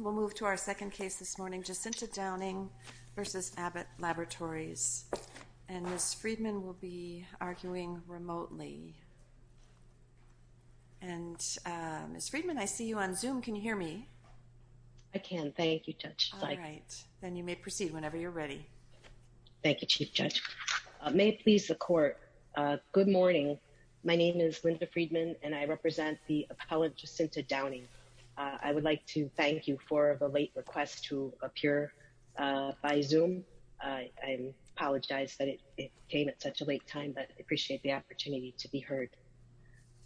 We'll move to our second case this morning, Jacinta Downing v. Abbott Laboratories, and Ms. Friedman will be arguing remotely. And, Ms. Friedman, I see you on Zoom. Can you hear me? I can. Thank you, Judge. All right, then you may proceed whenever you're ready. Thank you, Chief Judge. May it please the Court. Good morning. My name is Linda Friedman and I represent the appellate, Jacinta Downing. I would like to thank you for the late request to appear by Zoom. I apologize that it came at such a late time, but I appreciate the opportunity to be heard.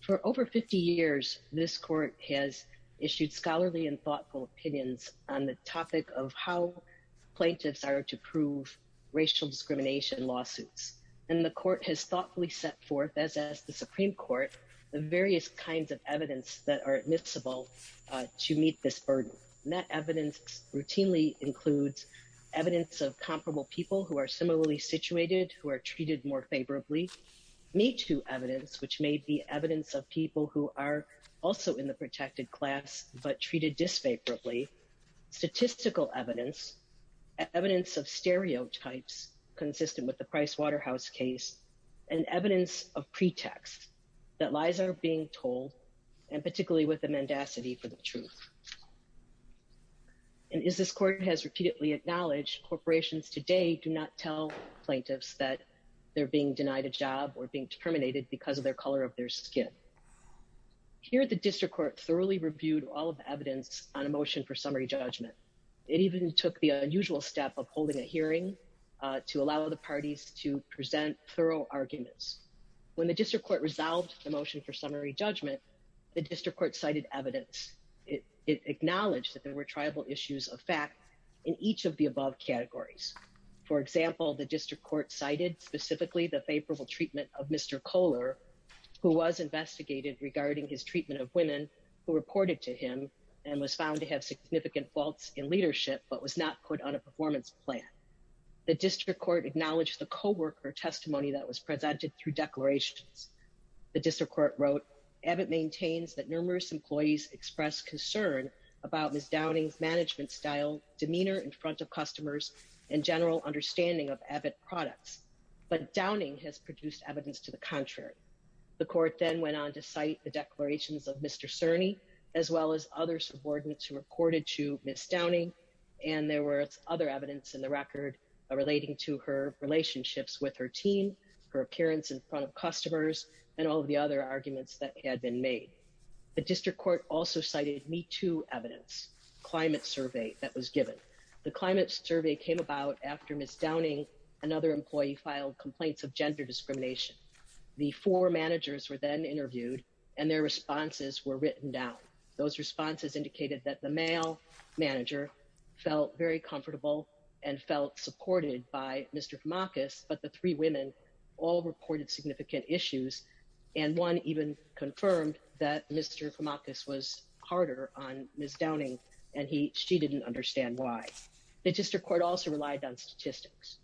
For over 50 years, this Court has issued scholarly and thoughtful opinions on the topic of how plaintiffs are to prove racial discrimination lawsuits. And the Court has thoughtfully set forth, as has the Supreme Court, the various kinds of evidence that are admissible to meet this burden. That evidence routinely includes evidence of comparable people who are similarly situated, who are treated more favorably, MeToo evidence, which may be evidence of people who are also in the protected class, but treated disfavorably, statistical evidence, evidence of stereotypes consistent with the Price Waterhouse case, and evidence of pretext that lies are being told, and particularly with the mendacity for the truth. And as this Court has repeatedly acknowledged, corporations today do not tell plaintiffs that they're being denied a job or being terminated because of their color of their skin. Here, the District Court thoroughly reviewed all of the evidence on a motion for summary judgment. It even took the unusual step of holding a hearing to allow the parties to present thorough arguments. When the District Court resolved the motion for summary judgment, the District Court cited evidence. It acknowledged that there were tribal issues of fact in each of the above categories. For example, the District Court cited specifically the favorable treatment of Mr. Kohler, who was investigated regarding his treatment of women who reported to him and was found to have significant faults in leadership, but was not put on a performance plan. The District Court acknowledged the coworker testimony that was presented through declarations. The District Court wrote, Abbott maintains that numerous employees expressed concern about Ms. Downing's management style, demeanor in front of customers, and general understanding of Abbott products. But Downing has produced evidence to the contrary. The Court then went on to cite the declarations of Mr. Cerny, as well as other subordinates who reported to Ms. Downing, and there were other evidence in the record relating to her relationships with her team, her appearance in front of customers, and all of the other arguments that had been made. The District Court also cited Me Too evidence, climate survey that was given. The climate survey came about after Ms. Downing and other employee filed complaints of gender discrimination. The four managers were then interviewed and their responses were written down. Those responses indicated that the male manager felt very comfortable and felt supported by Mr. Kamakis, but the three women all reported significant issues, and one even confirmed that Mr. Kamakis was harder on Ms. Downing, and she didn't understand why. The District Court also relied on statistics.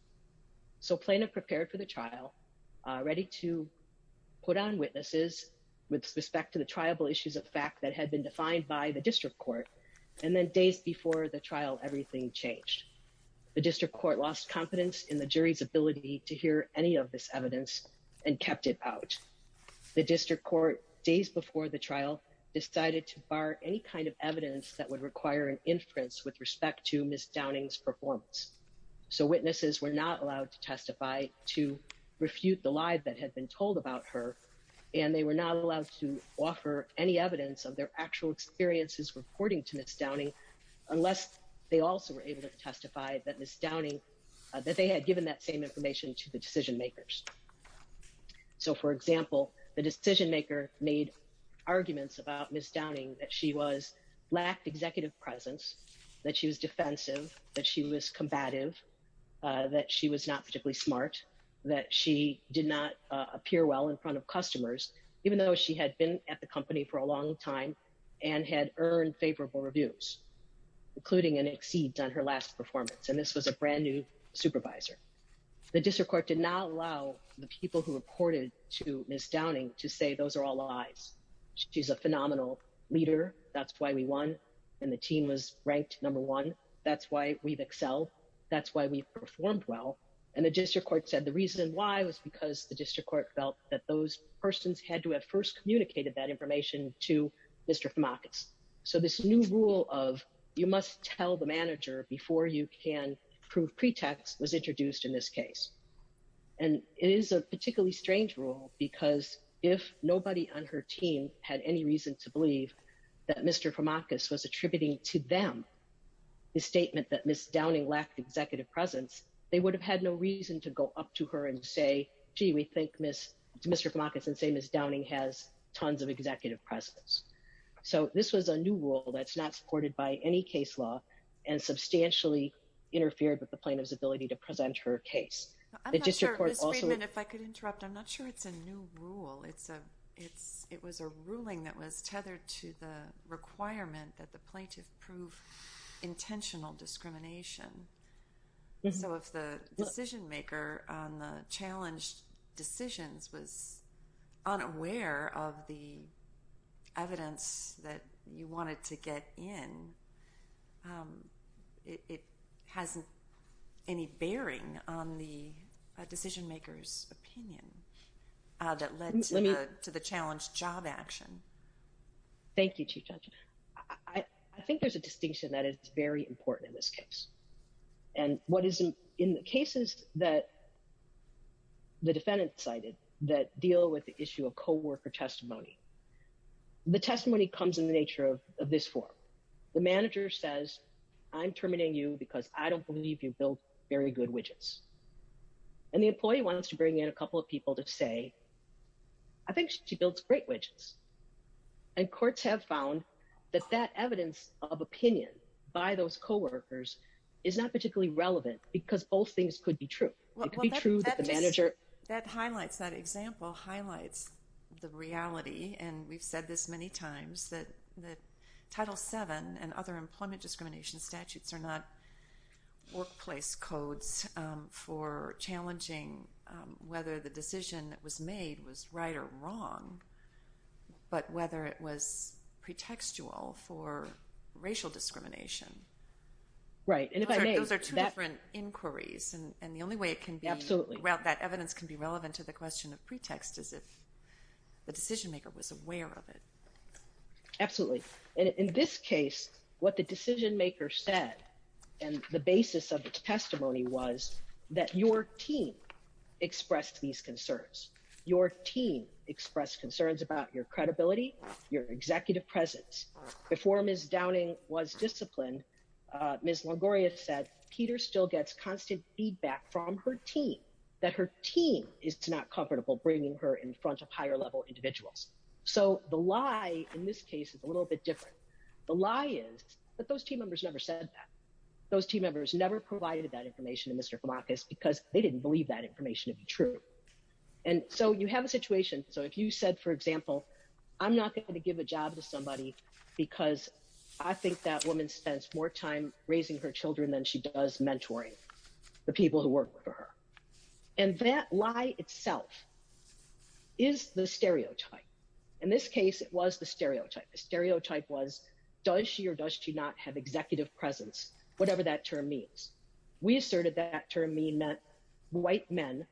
So Plano prepared for the trial, ready to put on witnesses with respect to the triable issues of fact that had been defined by the District Court, and then days before the trial, everything changed. The District Court lost confidence in the jury's ability to hear any of this evidence and kept it out. The District Court, days before the trial, decided to bar any kind of evidence that would require an inference with respect to Ms. Downing's performance. So witnesses were not allowed to testify to refute the lie that had been told about her, and they were not allowed to offer any evidence of their actual experiences reporting to Ms. Downing, unless they also were able to testify that they had given that same information to the decision makers. So for example, the decision maker made arguments about Ms. Downing, that she lacked executive presence, that she was defensive, that she was combative, that she was not particularly smart, that she did not appear well in front of customers, even though she had been at the company for a long time and had earned favorable reviews, including an exceed on her last performance, and this was a brand new supervisor. The District Court did not allow the people who reported to Ms. Downing to say those are all lies. She's a phenomenal leader, that's why we won, and the team was ranked number one. That's why we've excelled, that's why we've performed well. And the District Court said the reason why was because the District Court felt that those persons had to have first communicated that information to Mr. Famakas. So this new rule of you must tell the manager before you can prove pretext was introduced in this case. And it is a particularly strange rule because if nobody on her team had any reason to believe that Mr. Famakas was attributing to them the statement that Ms. Downing lacked executive presence, they would have had no reason to go up to her and say, gee, we think Mr. Famakas and say Ms. Downing has tons of executive presence. So this was a new rule that's not supported by any case law and substantially interfered with the plaintiff's ability to present her case. I'm not sure, Ms. Friedman, if I could interrupt, I'm not sure it's a new rule. It's a, it's, it was a ruling that was tethered to the requirement that the plaintiff prove intentional discrimination. So if the decision maker on the challenged decisions was unaware of the evidence that you wanted to get in, it hasn't any bearing on the decision maker's opinion that led to the challenge job action. Thank you, Chief Judge. I think there's a distinction that is very important in this case. And what is in the cases that the defendant cited that deal with the issue of coworker testimony, the testimony comes in the nature of this form. The manager says, I'm terminating you because I don't believe you build very good widgets. And the employee wants to bring in a couple of people to say, I think she builds great widgets. And courts have found that that evidence of opinion by those coworkers is not particularly relevant because both things could be true. That highlights, that example highlights the reality, and we've said this many times, that, that Title VII and other employment discrimination statutes are not workplace codes for challenging whether the decision that was made was right or wrong, but whether it was pretextual for racial discrimination. Right. And if I may. Those are two different inquiries. And the only way it can be. Absolutely. Well, that evidence can be relevant to the question of pretext as if the decision maker was aware of it. Absolutely. In this case, what the decision maker said and the basis of the testimony was that your team expressed these concerns. Your team expressed concerns about your credibility, your executive presence. Before Ms. Downing was disciplined, Ms. Longoria said, Peter still gets constant feedback from her team. That her team is not comfortable bringing her in front of higher level individuals. So the lie in this case is a little bit different. The lie is that those team members never said that. Those team members never provided that information to Mr. Kamakis because they didn't believe that information to be true. And so you have a situation. So if you said, for example, I'm not going to give a job to somebody because I think that woman spends more time raising her children than she does mentoring the people who work for her. And that lie itself is the stereotype. In this case, it was the stereotype. The stereotype was, does she or does she not have executive presence? Whatever that term means. We asserted that that term meant white men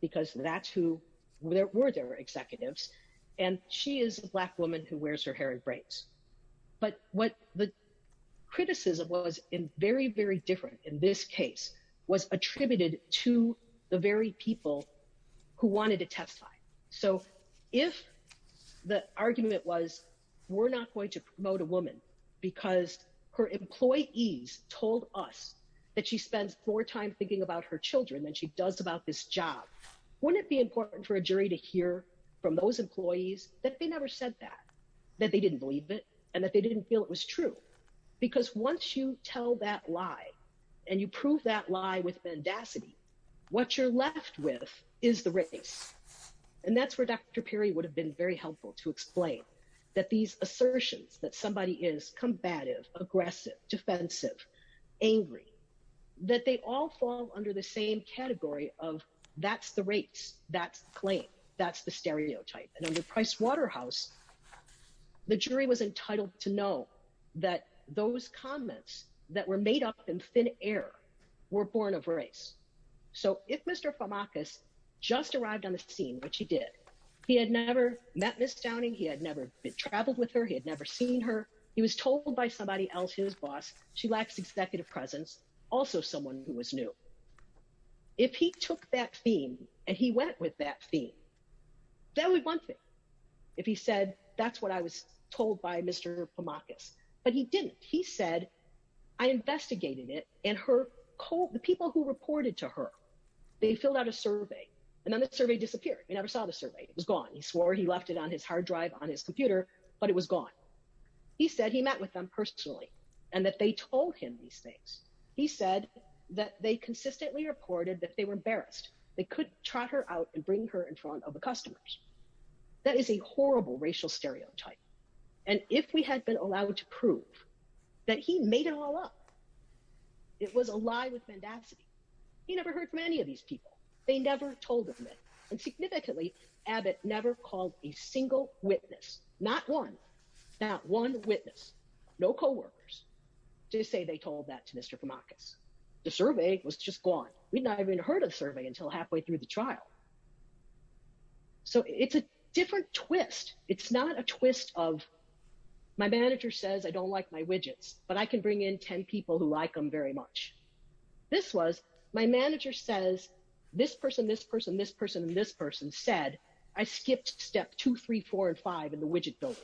because that's who were their executives. And she is a black woman who wears her hair in braids. But what the criticism was in very, very different in this case was attributed to the very people who wanted to testify. So if the argument was, we're not going to promote a woman because her employees told us that she spends more time thinking about her children than she does about this job. Wouldn't it be important for a jury to hear from those employees that they never said that, that they didn't believe it and that they didn't feel it was true? Because once you tell that lie and you prove that lie with mendacity, what you're left with is the race. And that's where Dr. helpful to explain that these assertions that somebody is combative, aggressive, defensive, angry, that they all fall under the same category of that's the race. That's the claim. That's the stereotype. And under Price Waterhouse, the jury was entitled to know that those comments that were made up in thin air were born of race. So if Mr. Pamakis just arrived on the scene, which he did, he had never met Ms. Downing. He had never been traveled with her. He had never seen her. He was told by somebody else, his boss. She lacks executive presence, also someone who was new. If he took that theme and he went with that theme, that would one thing. If he said, that's what I was told by Mr. Pamakis, but he didn't. He said, I investigated it and the people who reported to her, they filled out a survey and then the survey disappeared. You never saw the survey. It was gone. He swore he left it on his hard drive on his computer, but it was gone. He said he met with them personally and that they told him these things. He said that they consistently reported that they were embarrassed. They could trot her out and bring her in front of the customers. That is a horrible racial stereotype. And if we had been allowed to prove that he made it all up, it was a lie with mendacity. He never heard from any of these people. They never told him that and significantly Abbott never called a single witness. Not one, not one witness, no coworkers to say they told that to Mr. Pamakis. The survey was just gone. We'd not even heard of the survey until halfway through the trial. So it's a different twist. It's not a twist of my manager says, I don't like my widgets, but I can bring in 10 people who like them very much. This was my manager says this person, this person, this person, and this person said I skipped step two, three, four, and five in the widget building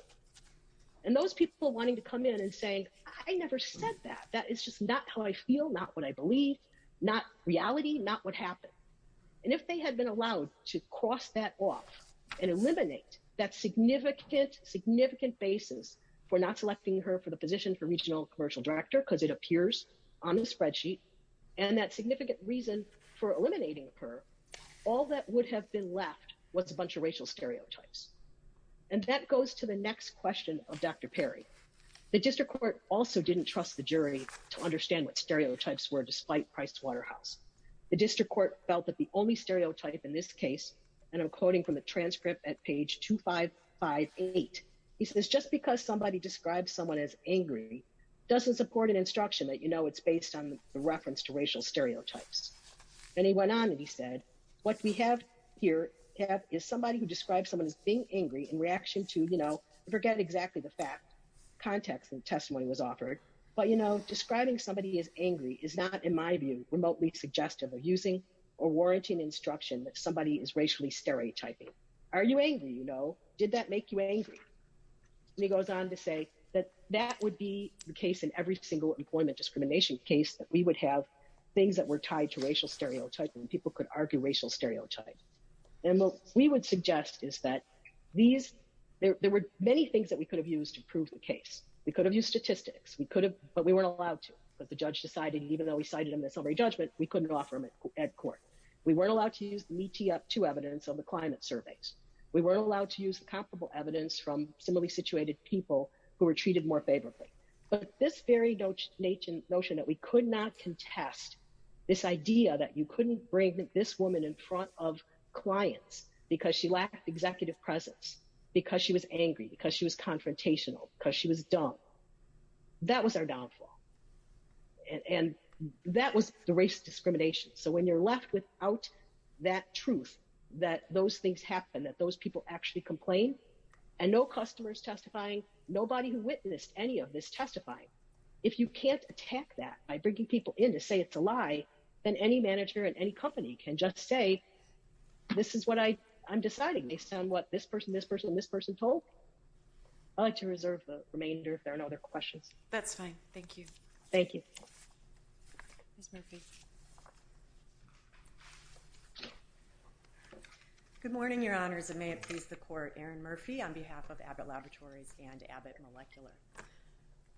and those people wanting to come in and saying, I never said that. That is just not how I feel. Not what I believe, not reality, not what happened. And if they had been allowed to cross that off and eliminate that significant, significant basis for not selecting her for the position for regional commercial director, because it appears on the spreadsheet and that significant reason for eliminating her, all that would have been left was a bunch of racial stereotypes. And that goes to the next question of Dr. Perry. The district court also didn't trust the jury to understand what stereotypes were despite Pricewaterhouse. The district court felt that the only stereotype in this case, and I'm quoting from the transcript at page 2558, he says, just because somebody describes someone as angry doesn't support an instruction that, you know, it's based on the reference to racial stereotypes. And he went on and he said, what we have here is somebody who describes someone as being angry in reaction to, you know, forget exactly the fact context and testimony was offered. But, you know, describing somebody as angry is not, in my view, remotely suggestive of using or warranting instruction that somebody is racially stereotyping. Are you angry? You know, did that make you angry? He goes on to say that that would be the case in every single employment discrimination case that we would have things that were tied to racial stereotypes and people could argue racial stereotypes. And what we would suggest is that there were many things that we could have used to prove the case. We could have used statistics. We could have, but we weren't allowed to because the judge decided, even though we cited him in a summary judgment, we couldn't offer him at court. We weren't allowed to use the METI-2 evidence on the climate surveys. We weren't allowed to use comparable evidence from similarly situated people who were treated more favorably. But this very notion that we could not contest this idea that you couldn't bring this woman in front of clients because she lacked executive presence, because she was angry, because she was confrontational, because she was dumb. That was our downfall. And that was the race discrimination. So when you're left without that truth, that those things happen, that those people actually complain, and no customers testifying, nobody witnessed any of this testifying. If you can't attack that by bringing people in to say it's a lie, then any manager in any company can just say, this is what I'm deciding based on what this person, this person, and this person told. I'd like to reserve the remainder if there are no other questions. That's fine. Thank you. Thank you. Ms. Murphy. Good morning, Your Honors, and may it please the Court, Erin Murphy on behalf of Abbott Laboratories and Abbott Molecular.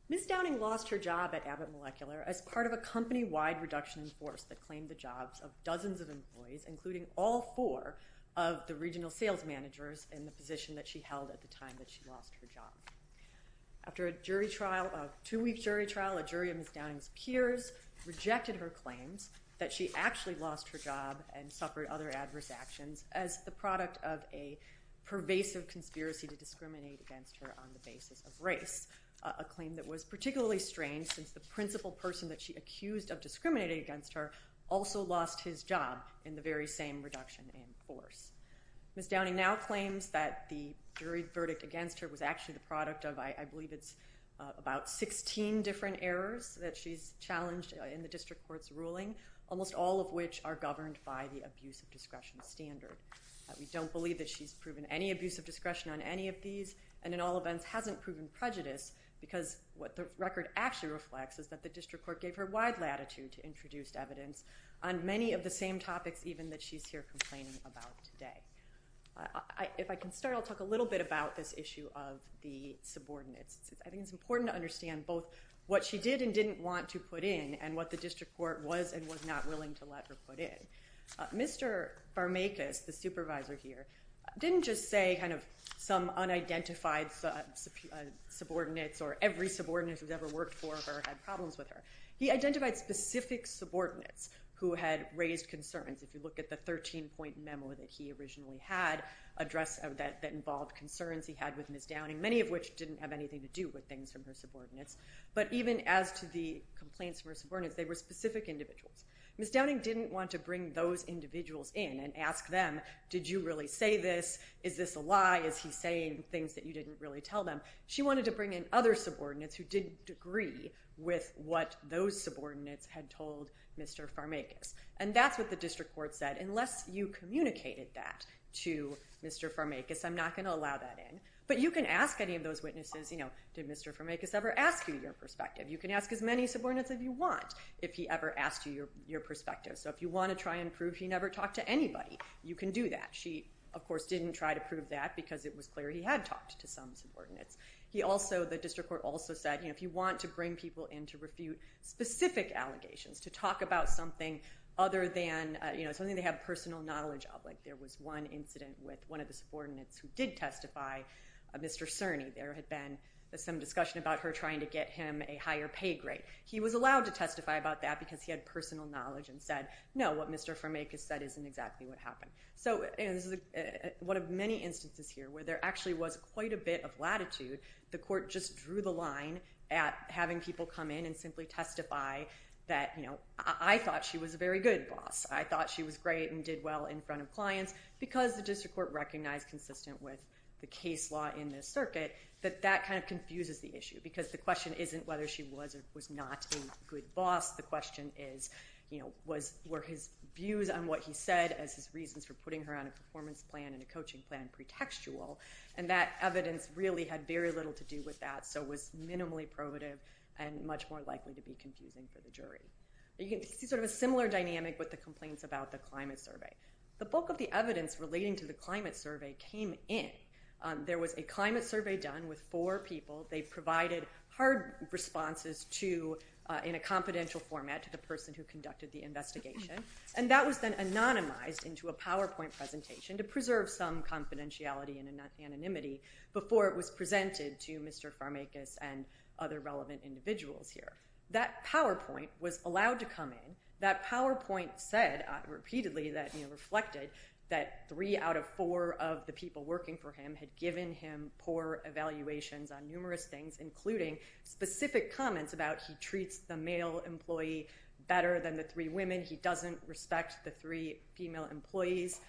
Ms. Downing lost her job at Abbott Molecular as part of a company-wide reduction in force that claimed the jobs of dozens of employees, including all four of the regional sales managers, in the position that she held at the time that she lost her job. After a jury trial, a two-week jury trial, a jury of Ms. Downing's peers rejected her claims that she actually lost her job and suffered other adverse actions as the product of a pervasive conspiracy to discriminate against her on the basis of race, a claim that was particularly strange since the principal person that she accused of discriminating against her also lost his job in the very same reduction in force. Ms. Downing now claims that the jury verdict against her was actually the product of, I believe it's about 16 different errors that she's challenged in the district court's ruling, almost all of which are governed by the abuse of discretion standard. We don't believe that she's proven any abuse of discretion on any of these and in all events hasn't proven prejudice because what the record actually reflects is that the district court gave her wide latitude to introduce evidence on many of the same topics even that she's here complaining about today. If I can start, I'll talk a little bit about this issue of the subordinates. I think it's important to understand both what she did and didn't want to put in and what the district court was and was not willing to let her put in. Mr. Barmakas, the supervisor here, didn't just say kind of some unidentified subordinates or every subordinate who's ever worked for her or had problems with her. He identified specific subordinates who had raised concerns. If you look at the 13-point memo that he originally had addressed that involved concerns he had with Ms. Downing, many of which didn't have anything to do with things from her subordinates, but even as to the complaints from her subordinates, they were specific individuals. Ms. Downing didn't want to bring those individuals in and ask them, did you really say this? Is this a lie? Is he saying things that you didn't really tell them? She wanted to bring in other subordinates who didn't agree with what those subordinates had told Mr. Barmakas. And that's what the district court said. Unless you communicated that to Mr. Barmakas, I'm not going to allow that in. But you can ask any of those witnesses, you know, did Mr. Barmakas ever ask you your perspective? You can ask as many subordinates as you want if he ever asked you your perspective. So if you want to try and prove he never talked to anybody, you can do that. She, of course, didn't try to prove that because it was clear he had talked to some subordinates. He also, the district court also said, you know, if you want to bring people in to refute specific allegations, to talk about something other than, you know, something they have personal knowledge of, like there was one incident with one of the subordinates who did testify, Mr. Cerny, there had been some discussion about her trying to get him a higher pay grade. He was allowed to testify about that because he had personal knowledge and said, no, what Mr. Barmakas said isn't exactly what happened. So, you know, this is one of many instances here where there actually was quite a bit of latitude. The court just drew the line at having people come in and simply testify that, you know, I thought she was a very good boss. I thought she was great and did well in front of clients because the district court recognized consistent with the case law in this circuit that that kind of confuses the issue because the question isn't whether she was or was not a good boss. The question is, you know, were his views on what he said as his reasons for putting her on a performance plan and a coaching plan pretextual and that evidence really had very little to do with that so was minimally probative and much more likely to be confusing for the jury. You can see sort of a similar dynamic with the complaints about the climate survey. The bulk of the evidence relating to the climate survey came in. There was a climate survey done with four people. They provided hard responses to in a confidential format to the person who conducted the investigation and that was then anonymized into a PowerPoint presentation to preserve some confidentiality and anonymity before it was presented to Mr. Farmakis and other relevant individuals here. That PowerPoint was allowed to come in. That PowerPoint said repeatedly that, you know, reflected that three out of four of the people working for him had given him poor evaluations on numerous things including specific comments about he treats the male employee better than the three women. He doesn't respect the three female employees.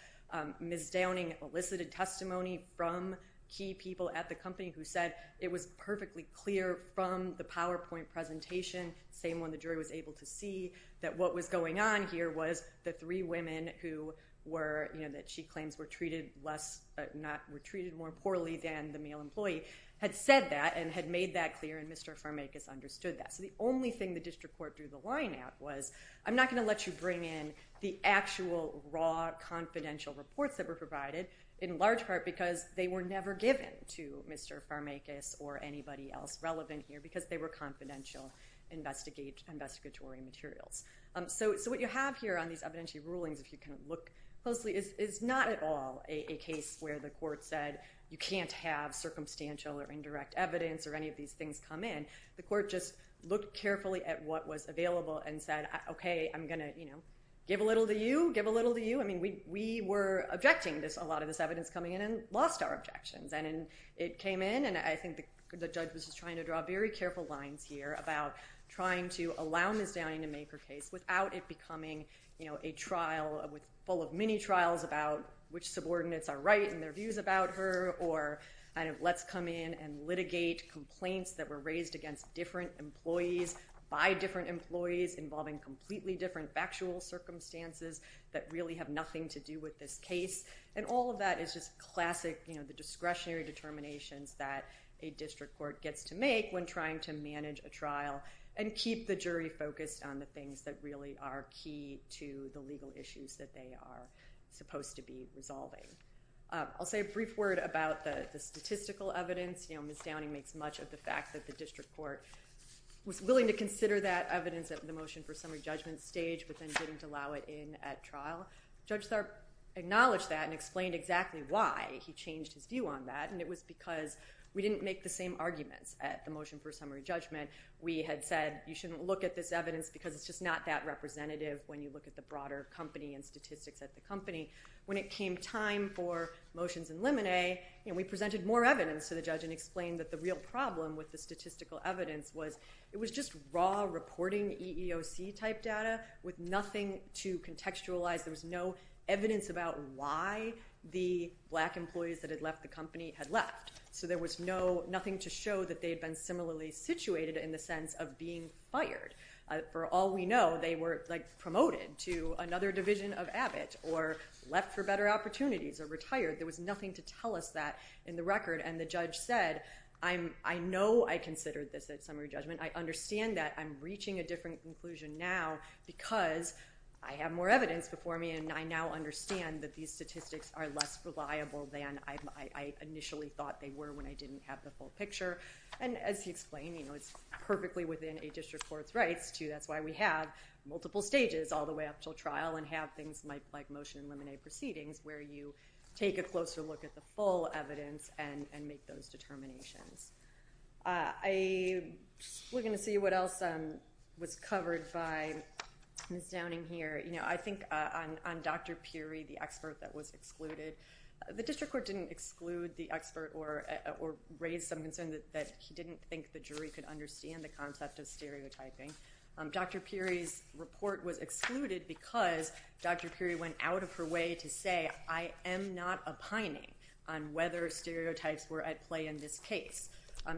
Ms. Downing elicited testimony from key people at the company who said it was perfectly clear from the PowerPoint presentation, same one the jury was able to see, that what was going on here was the three women who were, you know, that she claims were treated less, were treated more poorly than the male employee had said that and had made that clear and Mr. Farmakis understood that. So the only thing the district court drew the line at was, I'm not going to let you bring in the actual raw confidential reports that were provided in large part because they were never given to Mr. Farmakis or anybody else relevant here because they were confidential investigatory materials. So what you have here on these evidentiary rulings, if you kind of look closely, is not at all a case where the court said you can't have circumstantial or indirect evidence or any of these things come in. The court just looked carefully at what was available and said, okay, I'm going to, you know, give a little to you, give a little to you. I mean we were objecting to a lot of this evidence coming in and lost our objections and it came in and I think the judge was just trying to draw very careful lines here about trying to allow Ms. Downing to make her case without it becoming, you know, a trial full of mini trials about which subordinates are right in their views about her or kind of let's come in and litigate complaints that were raised against different employees by different employees involving completely different factual circumstances that really have nothing to do with this case. And all of that is just classic, you know, the discretionary determinations that a district court gets to make when trying to manage a trial and keep the jury focused on the things that really are key to the legal issues that they are supposed to be resolving. I'll say a brief word about the statistical evidence. You know, Ms. Downing makes much of the fact that the district court was willing to consider that evidence at the motion for summary judgment stage but then didn't allow it in at trial. Judge Tharp acknowledged that and explained exactly why he changed his view on that and it was because we didn't make the same arguments at the motion for summary judgment. We had said you shouldn't look at this evidence because it's just not that representative when you look at the broader company and statistics at the company. When it came time for motions in limine, you know, we presented more evidence to the judge and explained that the real problem with the statistical evidence was it was just raw reporting EEOC type data with nothing to contextualize. There was no evidence about why the black employees that had left the company had left. So there was nothing to show that they had been similarly situated in the sense of being fired. For all we know, they were promoted to another division of Abbott or left for better opportunities or retired. There was nothing to tell us that in the record and the judge said I know I considered this at summary judgment. I understand that. I'm reaching a different conclusion now because I have more evidence before me and I now understand that these statistics are less reliable than I initially thought they were when I didn't have the full picture. And as he explained, you know, it's perfectly within a district court's rights to that's why we have multiple stages all the way up until trial and have things like motion in limine proceedings where you take a closer look at the full evidence and make those determinations. We're going to see what else was covered by Ms. Downing here. You know, I think on Dr. Peary, the expert that was excluded, the district court didn't exclude the expert or raise some concern that he didn't think the jury could understand the concept of stereotyping. Dr. Peary's report was excluded because Dr. Peary went out of her way to say I am not opining on whether stereotypes were at play in this case.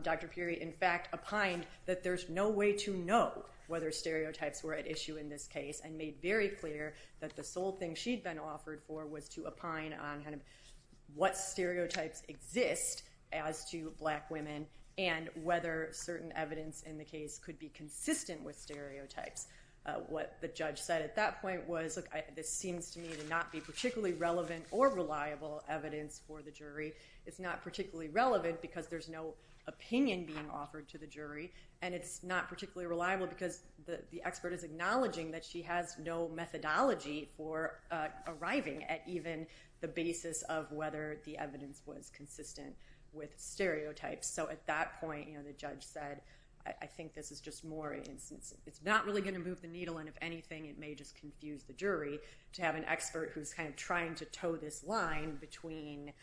Dr. Peary, in fact, opined that there's no way to know whether stereotypes were at issue in this case and made very clear that the sole thing she'd been offered for was to opine on kind of what stereotypes exist as to black women and whether certain evidence in the case could be consistent with stereotypes. What the judge said at that point was look, this seems to me to not be particularly relevant or reliable evidence for the jury. It's not particularly relevant because there's no opinion being offered to the jury and it's not particularly reliable because the expert is acknowledging that she has no methodology for arriving at even the basis of whether the evidence was consistent with stereotypes. So at that point, you know, the judge said I think this is just more, it's not really going to move the needle and if anything it may just confuse the jury to have an expert who's kind of trying to toe this line between,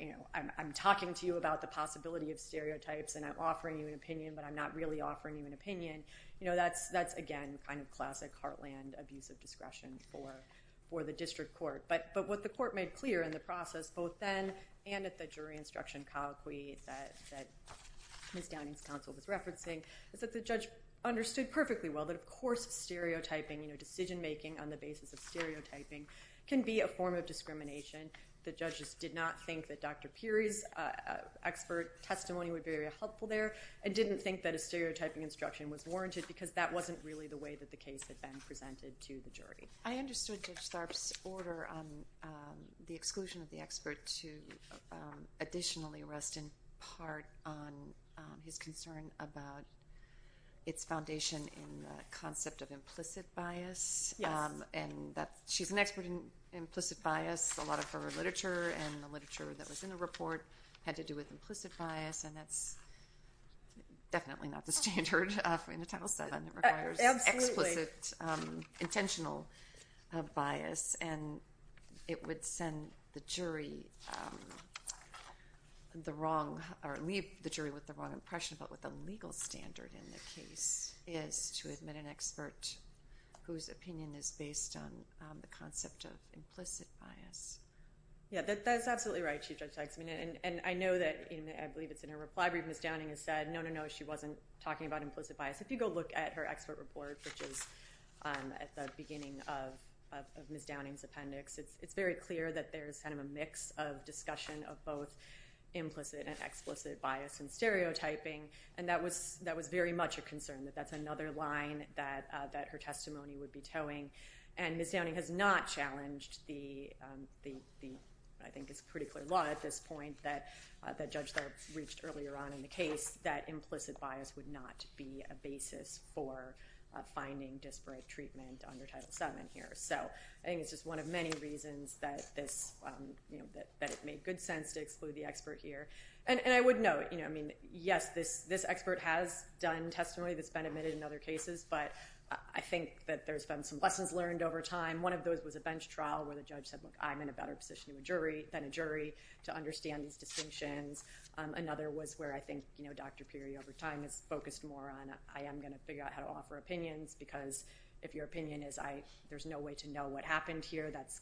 you know, I'm talking to you about the possibility of stereotypes and I'm offering you an opinion but I'm not really offering you an opinion. You know, that's again kind of classic heartland abuse of discretion for the district court. But what the court made clear in the process both then and at the jury instruction colloquy that Ms. Downing's counsel was referencing is that the judge understood perfectly well that of course stereotyping, you know, decision making on the basis of stereotyping can be a form of discrimination. The judges did not think that Dr. Peery's expert testimony would be very helpful there and didn't think that a stereotyping instruction was warranted because that wasn't really the way that the case had been presented to the jury. I understood Judge Tharp's order on the exclusion of the expert to additionally rest in part on his concern about its foundation in the concept of implicit bias. Yes. And that she's an expert in implicit bias. A lot of her literature and the literature that was in the report had to do with implicit bias and that's definitely not the standard in the Title VII. Absolutely. Explicit intentional bias and it would send the jury the wrong or leave the jury with the wrong impression about what the legal standard in the case is to admit an expert whose opinion is based on the concept of implicit bias. Yeah, that's absolutely right, Chief Judge Teggsman. And I know that, I believe it's in her reply brief, Ms. Downing has said no, no, no, she wasn't talking about implicit bias. If you go look at her expert report, which is at the beginning of Ms. Downing's appendix, it's very clear that there's kind of a mix of discussion of both implicit and explicit bias and stereotyping and that was very much a concern, that that's another line that her testimony would be towing. And Ms. Downing has not challenged the, I think it's pretty clear law at this point, that Judge Tharp reached earlier on in the case, that implicit bias would not be a basis for finding disparate treatment under Title VII here. So I think it's just one of many reasons that it made good sense to exclude the expert here. And I would note, yes, this expert has done testimony that's been admitted in other cases, but I think that there's been some lessons learned over time. One of those was a bench trial where the judge said, look, I'm in a better position than a jury to understand these distinctions. Another was where I think Dr. Peery, over time, has focused more on, I am going to figure out how to offer opinions because if your opinion is there's no way to know what happened here, that's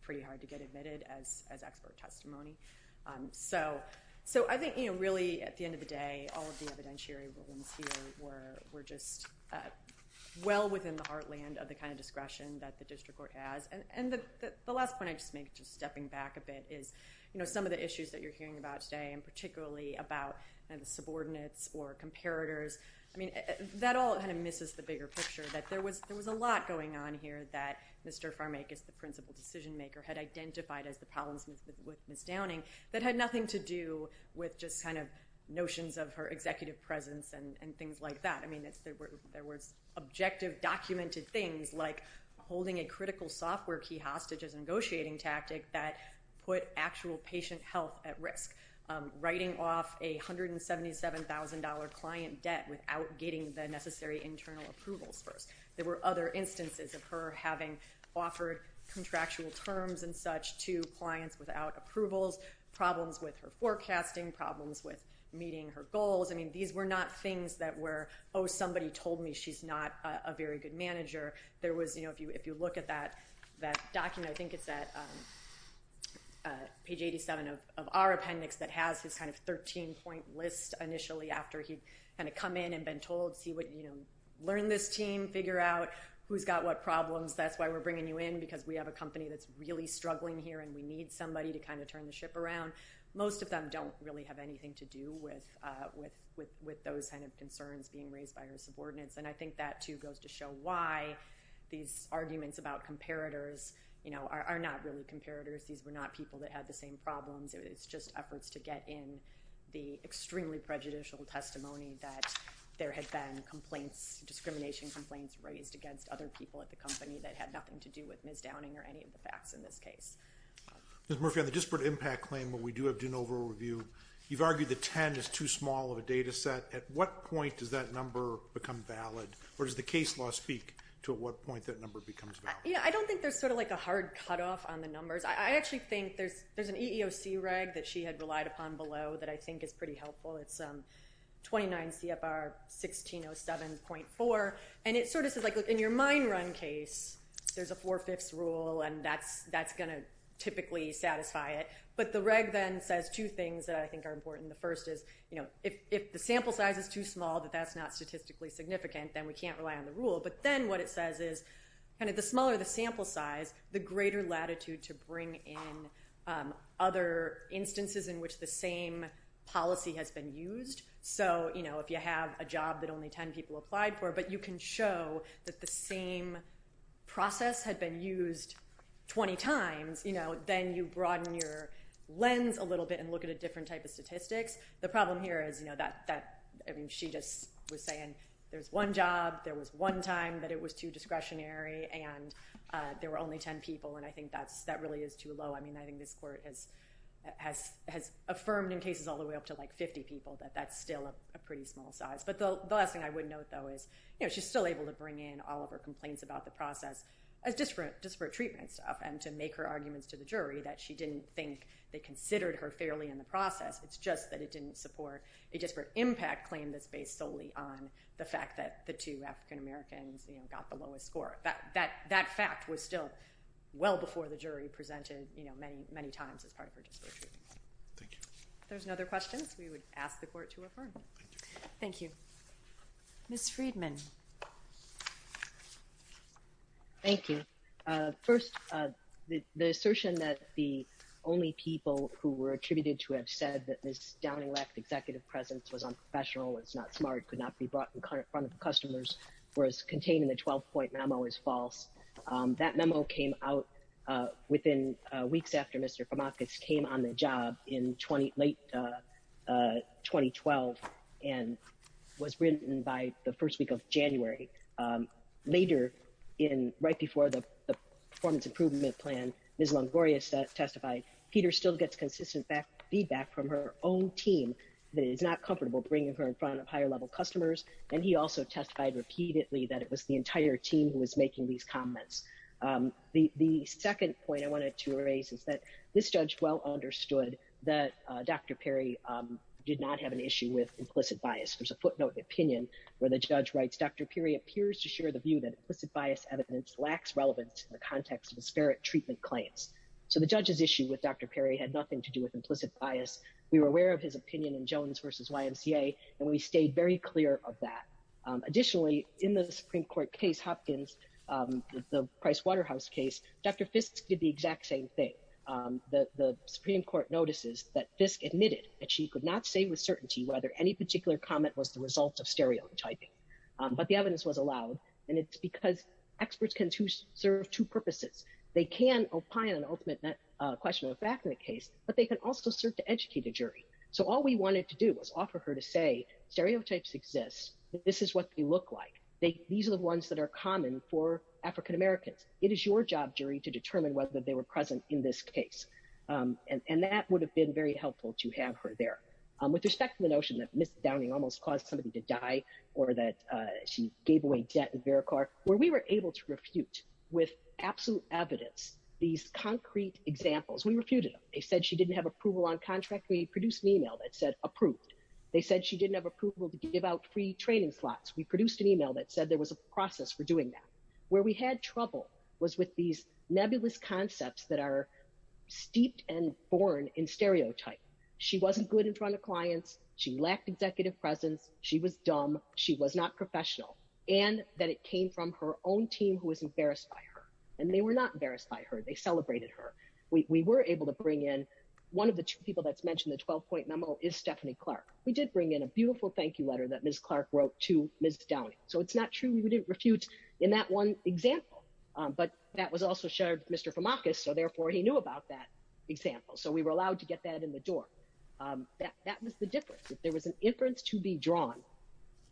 pretty hard to get admitted as expert testimony. So I think really, at the end of the day, all of the evidentiary rulings here were just well within the heartland of the kind of discretion that the district court has. And the last point I just make, just stepping back a bit, is some of the issues that you're hearing about today, and particularly about the subordinates or comparators, I mean, that all kind of misses the bigger picture, that there was a lot going on here that Mr. Farmakas, the principal decision maker, had identified as the problems with Ms. Downing that had nothing to do with just kind of notions of her executive presence and things like that. I mean, there was objective documented things like holding a critical software key hostage as a negotiating tactic that put actual patient health at risk, writing off a $177,000 client debt without getting the necessary internal approvals first. There were other instances of her having offered contractual terms and such to clients without approvals, problems with her forecasting, problems with meeting her goals. I mean, these were not things that were, oh, somebody told me she's not a very good manager. There was, you know, if you look at that document, I think it's at page 87 of our appendix, that has this kind of 13-point list initially after he'd kind of come in and been told, see what, you know, learn this team, figure out who's got what problems, that's why we're bringing you in because we have a company that's really struggling here and we need somebody to kind of turn the ship around. Most of them don't really have anything to do with those kind of concerns being raised by her subordinates, and I think that, too, goes to show why these arguments about comparators, you know, are not really comparators. These were not people that had the same problems. It's just efforts to get in the extremely prejudicial testimony that there had been complaints, discrimination complaints raised against other people at the company that had nothing to do with Ms. Downing or any of the facts in this case. Ms. Murphy, on the disparate impact claim where we do have de novo review, you've argued that 10 is too small of a data set. At what point does that number become valid, or does the case law speak to what point that number becomes valid? Yeah, I don't think there's sort of like a hard cutoff on the numbers. I actually think there's an EEOC reg that she had relied upon below that I think is pretty helpful. It's 29 CFR 1607.4, and it sort of says, like, look, in your mine run case, there's a four-fifths rule, and that's going to typically satisfy it. But the reg then says two things that I think are important. The first is, you know, if the sample size is too small, that that's not statistically significant, then we can't rely on the rule. But then what it says is kind of the smaller the sample size, the greater latitude to bring in other instances in which the same policy has been used. So, you know, if you have a job that only 10 people applied for, but you can show that the same process had been used 20 times, you know, then you broaden your lens a little bit and look at a different type of statistics. The problem here is, you know, that she just was saying there's one job, there was one time that it was too discretionary, and there were only 10 people, and I think that really is too low. I mean, I think this court has affirmed in cases all the way up to, like, 50 people that that's still a pretty small size. But the last thing I would note, though, is, you know, she's still able to bring in all of her complaints about the process as disparate treatments and to make her arguments to the jury that she didn't think they considered her fairly in the process. It's just that it didn't support a disparate impact claim that's based solely on the fact that the two African-Americans, you know, got the lowest score. That fact was still well before the jury presented, you know, many times as part of her disparate treatment. Thank you. If there's no other questions, we would ask the court to affirm. Thank you. Ms. Friedman. Thank you. First, the assertion that the only people who were attributed to have said that Ms. Downing lacked executive presence, was unprofessional, was not smart, could not be brought in front of customers, whereas containing the 12-point memo is false. That memo came out within weeks after Mr. Kamakis came on the job in late 2012 and was written by the first week of January. Later, right before the performance improvement plan, Ms. Longoria testified, Peter still gets consistent feedback from her own team that it is not comfortable bringing her in front of higher-level customers, and he also testified repeatedly that it was the entire team who was making these comments. The second point I wanted to raise is that this judge well understood that Dr. Perry did not have an issue with implicit bias. There's a footnote in the opinion where the judge writes, Dr. Perry appears to share the view that implicit bias evidence lacks relevance in the context of disparate treatment claims. So the judge's issue with Dr. Perry had nothing to do with implicit bias. We were aware of his opinion in Jones v. YMCA, and we stayed very clear of that. Additionally, in the Supreme Court case Hopkins, the Price Waterhouse case, Dr. Fiske did the exact same thing. The Supreme Court notices that Fiske admitted that she could not say with certainty whether any particular comment was the result of stereotyping. But the evidence was allowed, and it's because experts can serve two purposes. They can opine on an ultimate question of fact in a case, but they can also serve to educate a jury. So all we wanted to do was offer her to say stereotypes exist. This is what they look like. These are the ones that are common for African-Americans. It is your job, jury, to determine whether they were present in this case. And that would have been very helpful to have her there. With respect to the notion that Ms. Downing almost caused somebody to die or that she gave away debt in Veracar, where we were able to refute with absolute evidence these concrete examples, we refuted them. They said she didn't have approval on contract. We produced an email that said approved. They said she didn't have approval to give out free training slots. We produced an email that said there was a process for doing that. Where we had trouble was with these nebulous concepts that are steeped and born in stereotype. She wasn't good in front of clients. She lacked executive presence. She was dumb. She was not professional. And that it came from her own team who was embarrassed by her. And they were not embarrassed by her. They celebrated her. We were able to bring in one of the two people that's mentioned in the 12-point memo is Stephanie Clark. We did bring in a beautiful thank you letter that Ms. Clark wrote to Ms. Downing. So it's not true we didn't refute in that one example. But that was also shared with Mr. Famakis, so therefore he knew about that example. So we were allowed to get that in the door. That was the difference. If there was an inference to be drawn,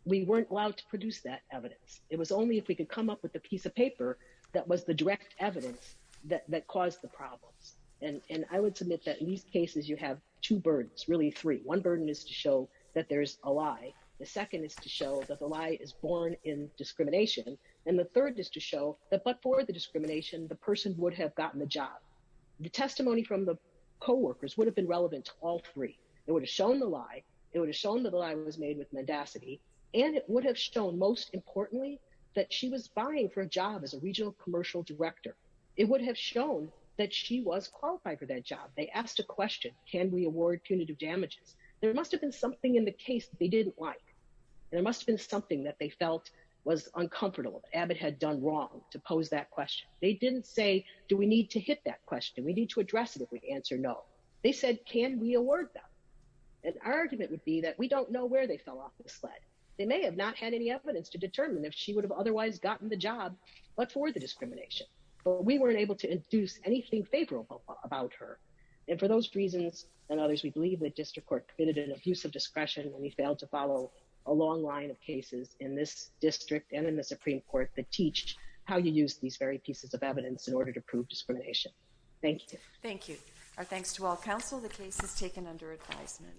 we weren't allowed to produce that evidence. It was only if we could come up with a piece of paper that was the direct evidence that caused the problems. And I would submit that in these cases you have two burdens, really three. One burden is to show that there's a lie. The second is to show that the lie is born in discrimination. And the third is to show that but for the discrimination, the person would have gotten the job. The testimony from the coworkers would have been relevant to all three. It would have shown the lie. It would have shown that the lie was made with mendacity. And it would have shown, most importantly, that she was vying for a job as a regional commercial director. It would have shown that she was qualified for that job. They asked a question, can we award punitive damages? There must have been something in the case that they didn't like. There must have been something that they felt was uncomfortable, that Abbott had done wrong to pose that question. They didn't say, do we need to hit that question? We need to address it if we answer no. They said, can we award them? And our argument would be that we don't know where they fell off the sled. They may have not had any evidence to determine if she would have otherwise gotten the job but for the discrimination. But we weren't able to induce anything favorable about her. And for those reasons and others, we believe that district court committed an abuse of discretion and we failed to follow a long line of cases in this district and in the Supreme Court that teach how you use these very pieces of evidence in order to prove discrimination. Thank you. Thank you. Our thanks to all counsel. The case is taken under advisement.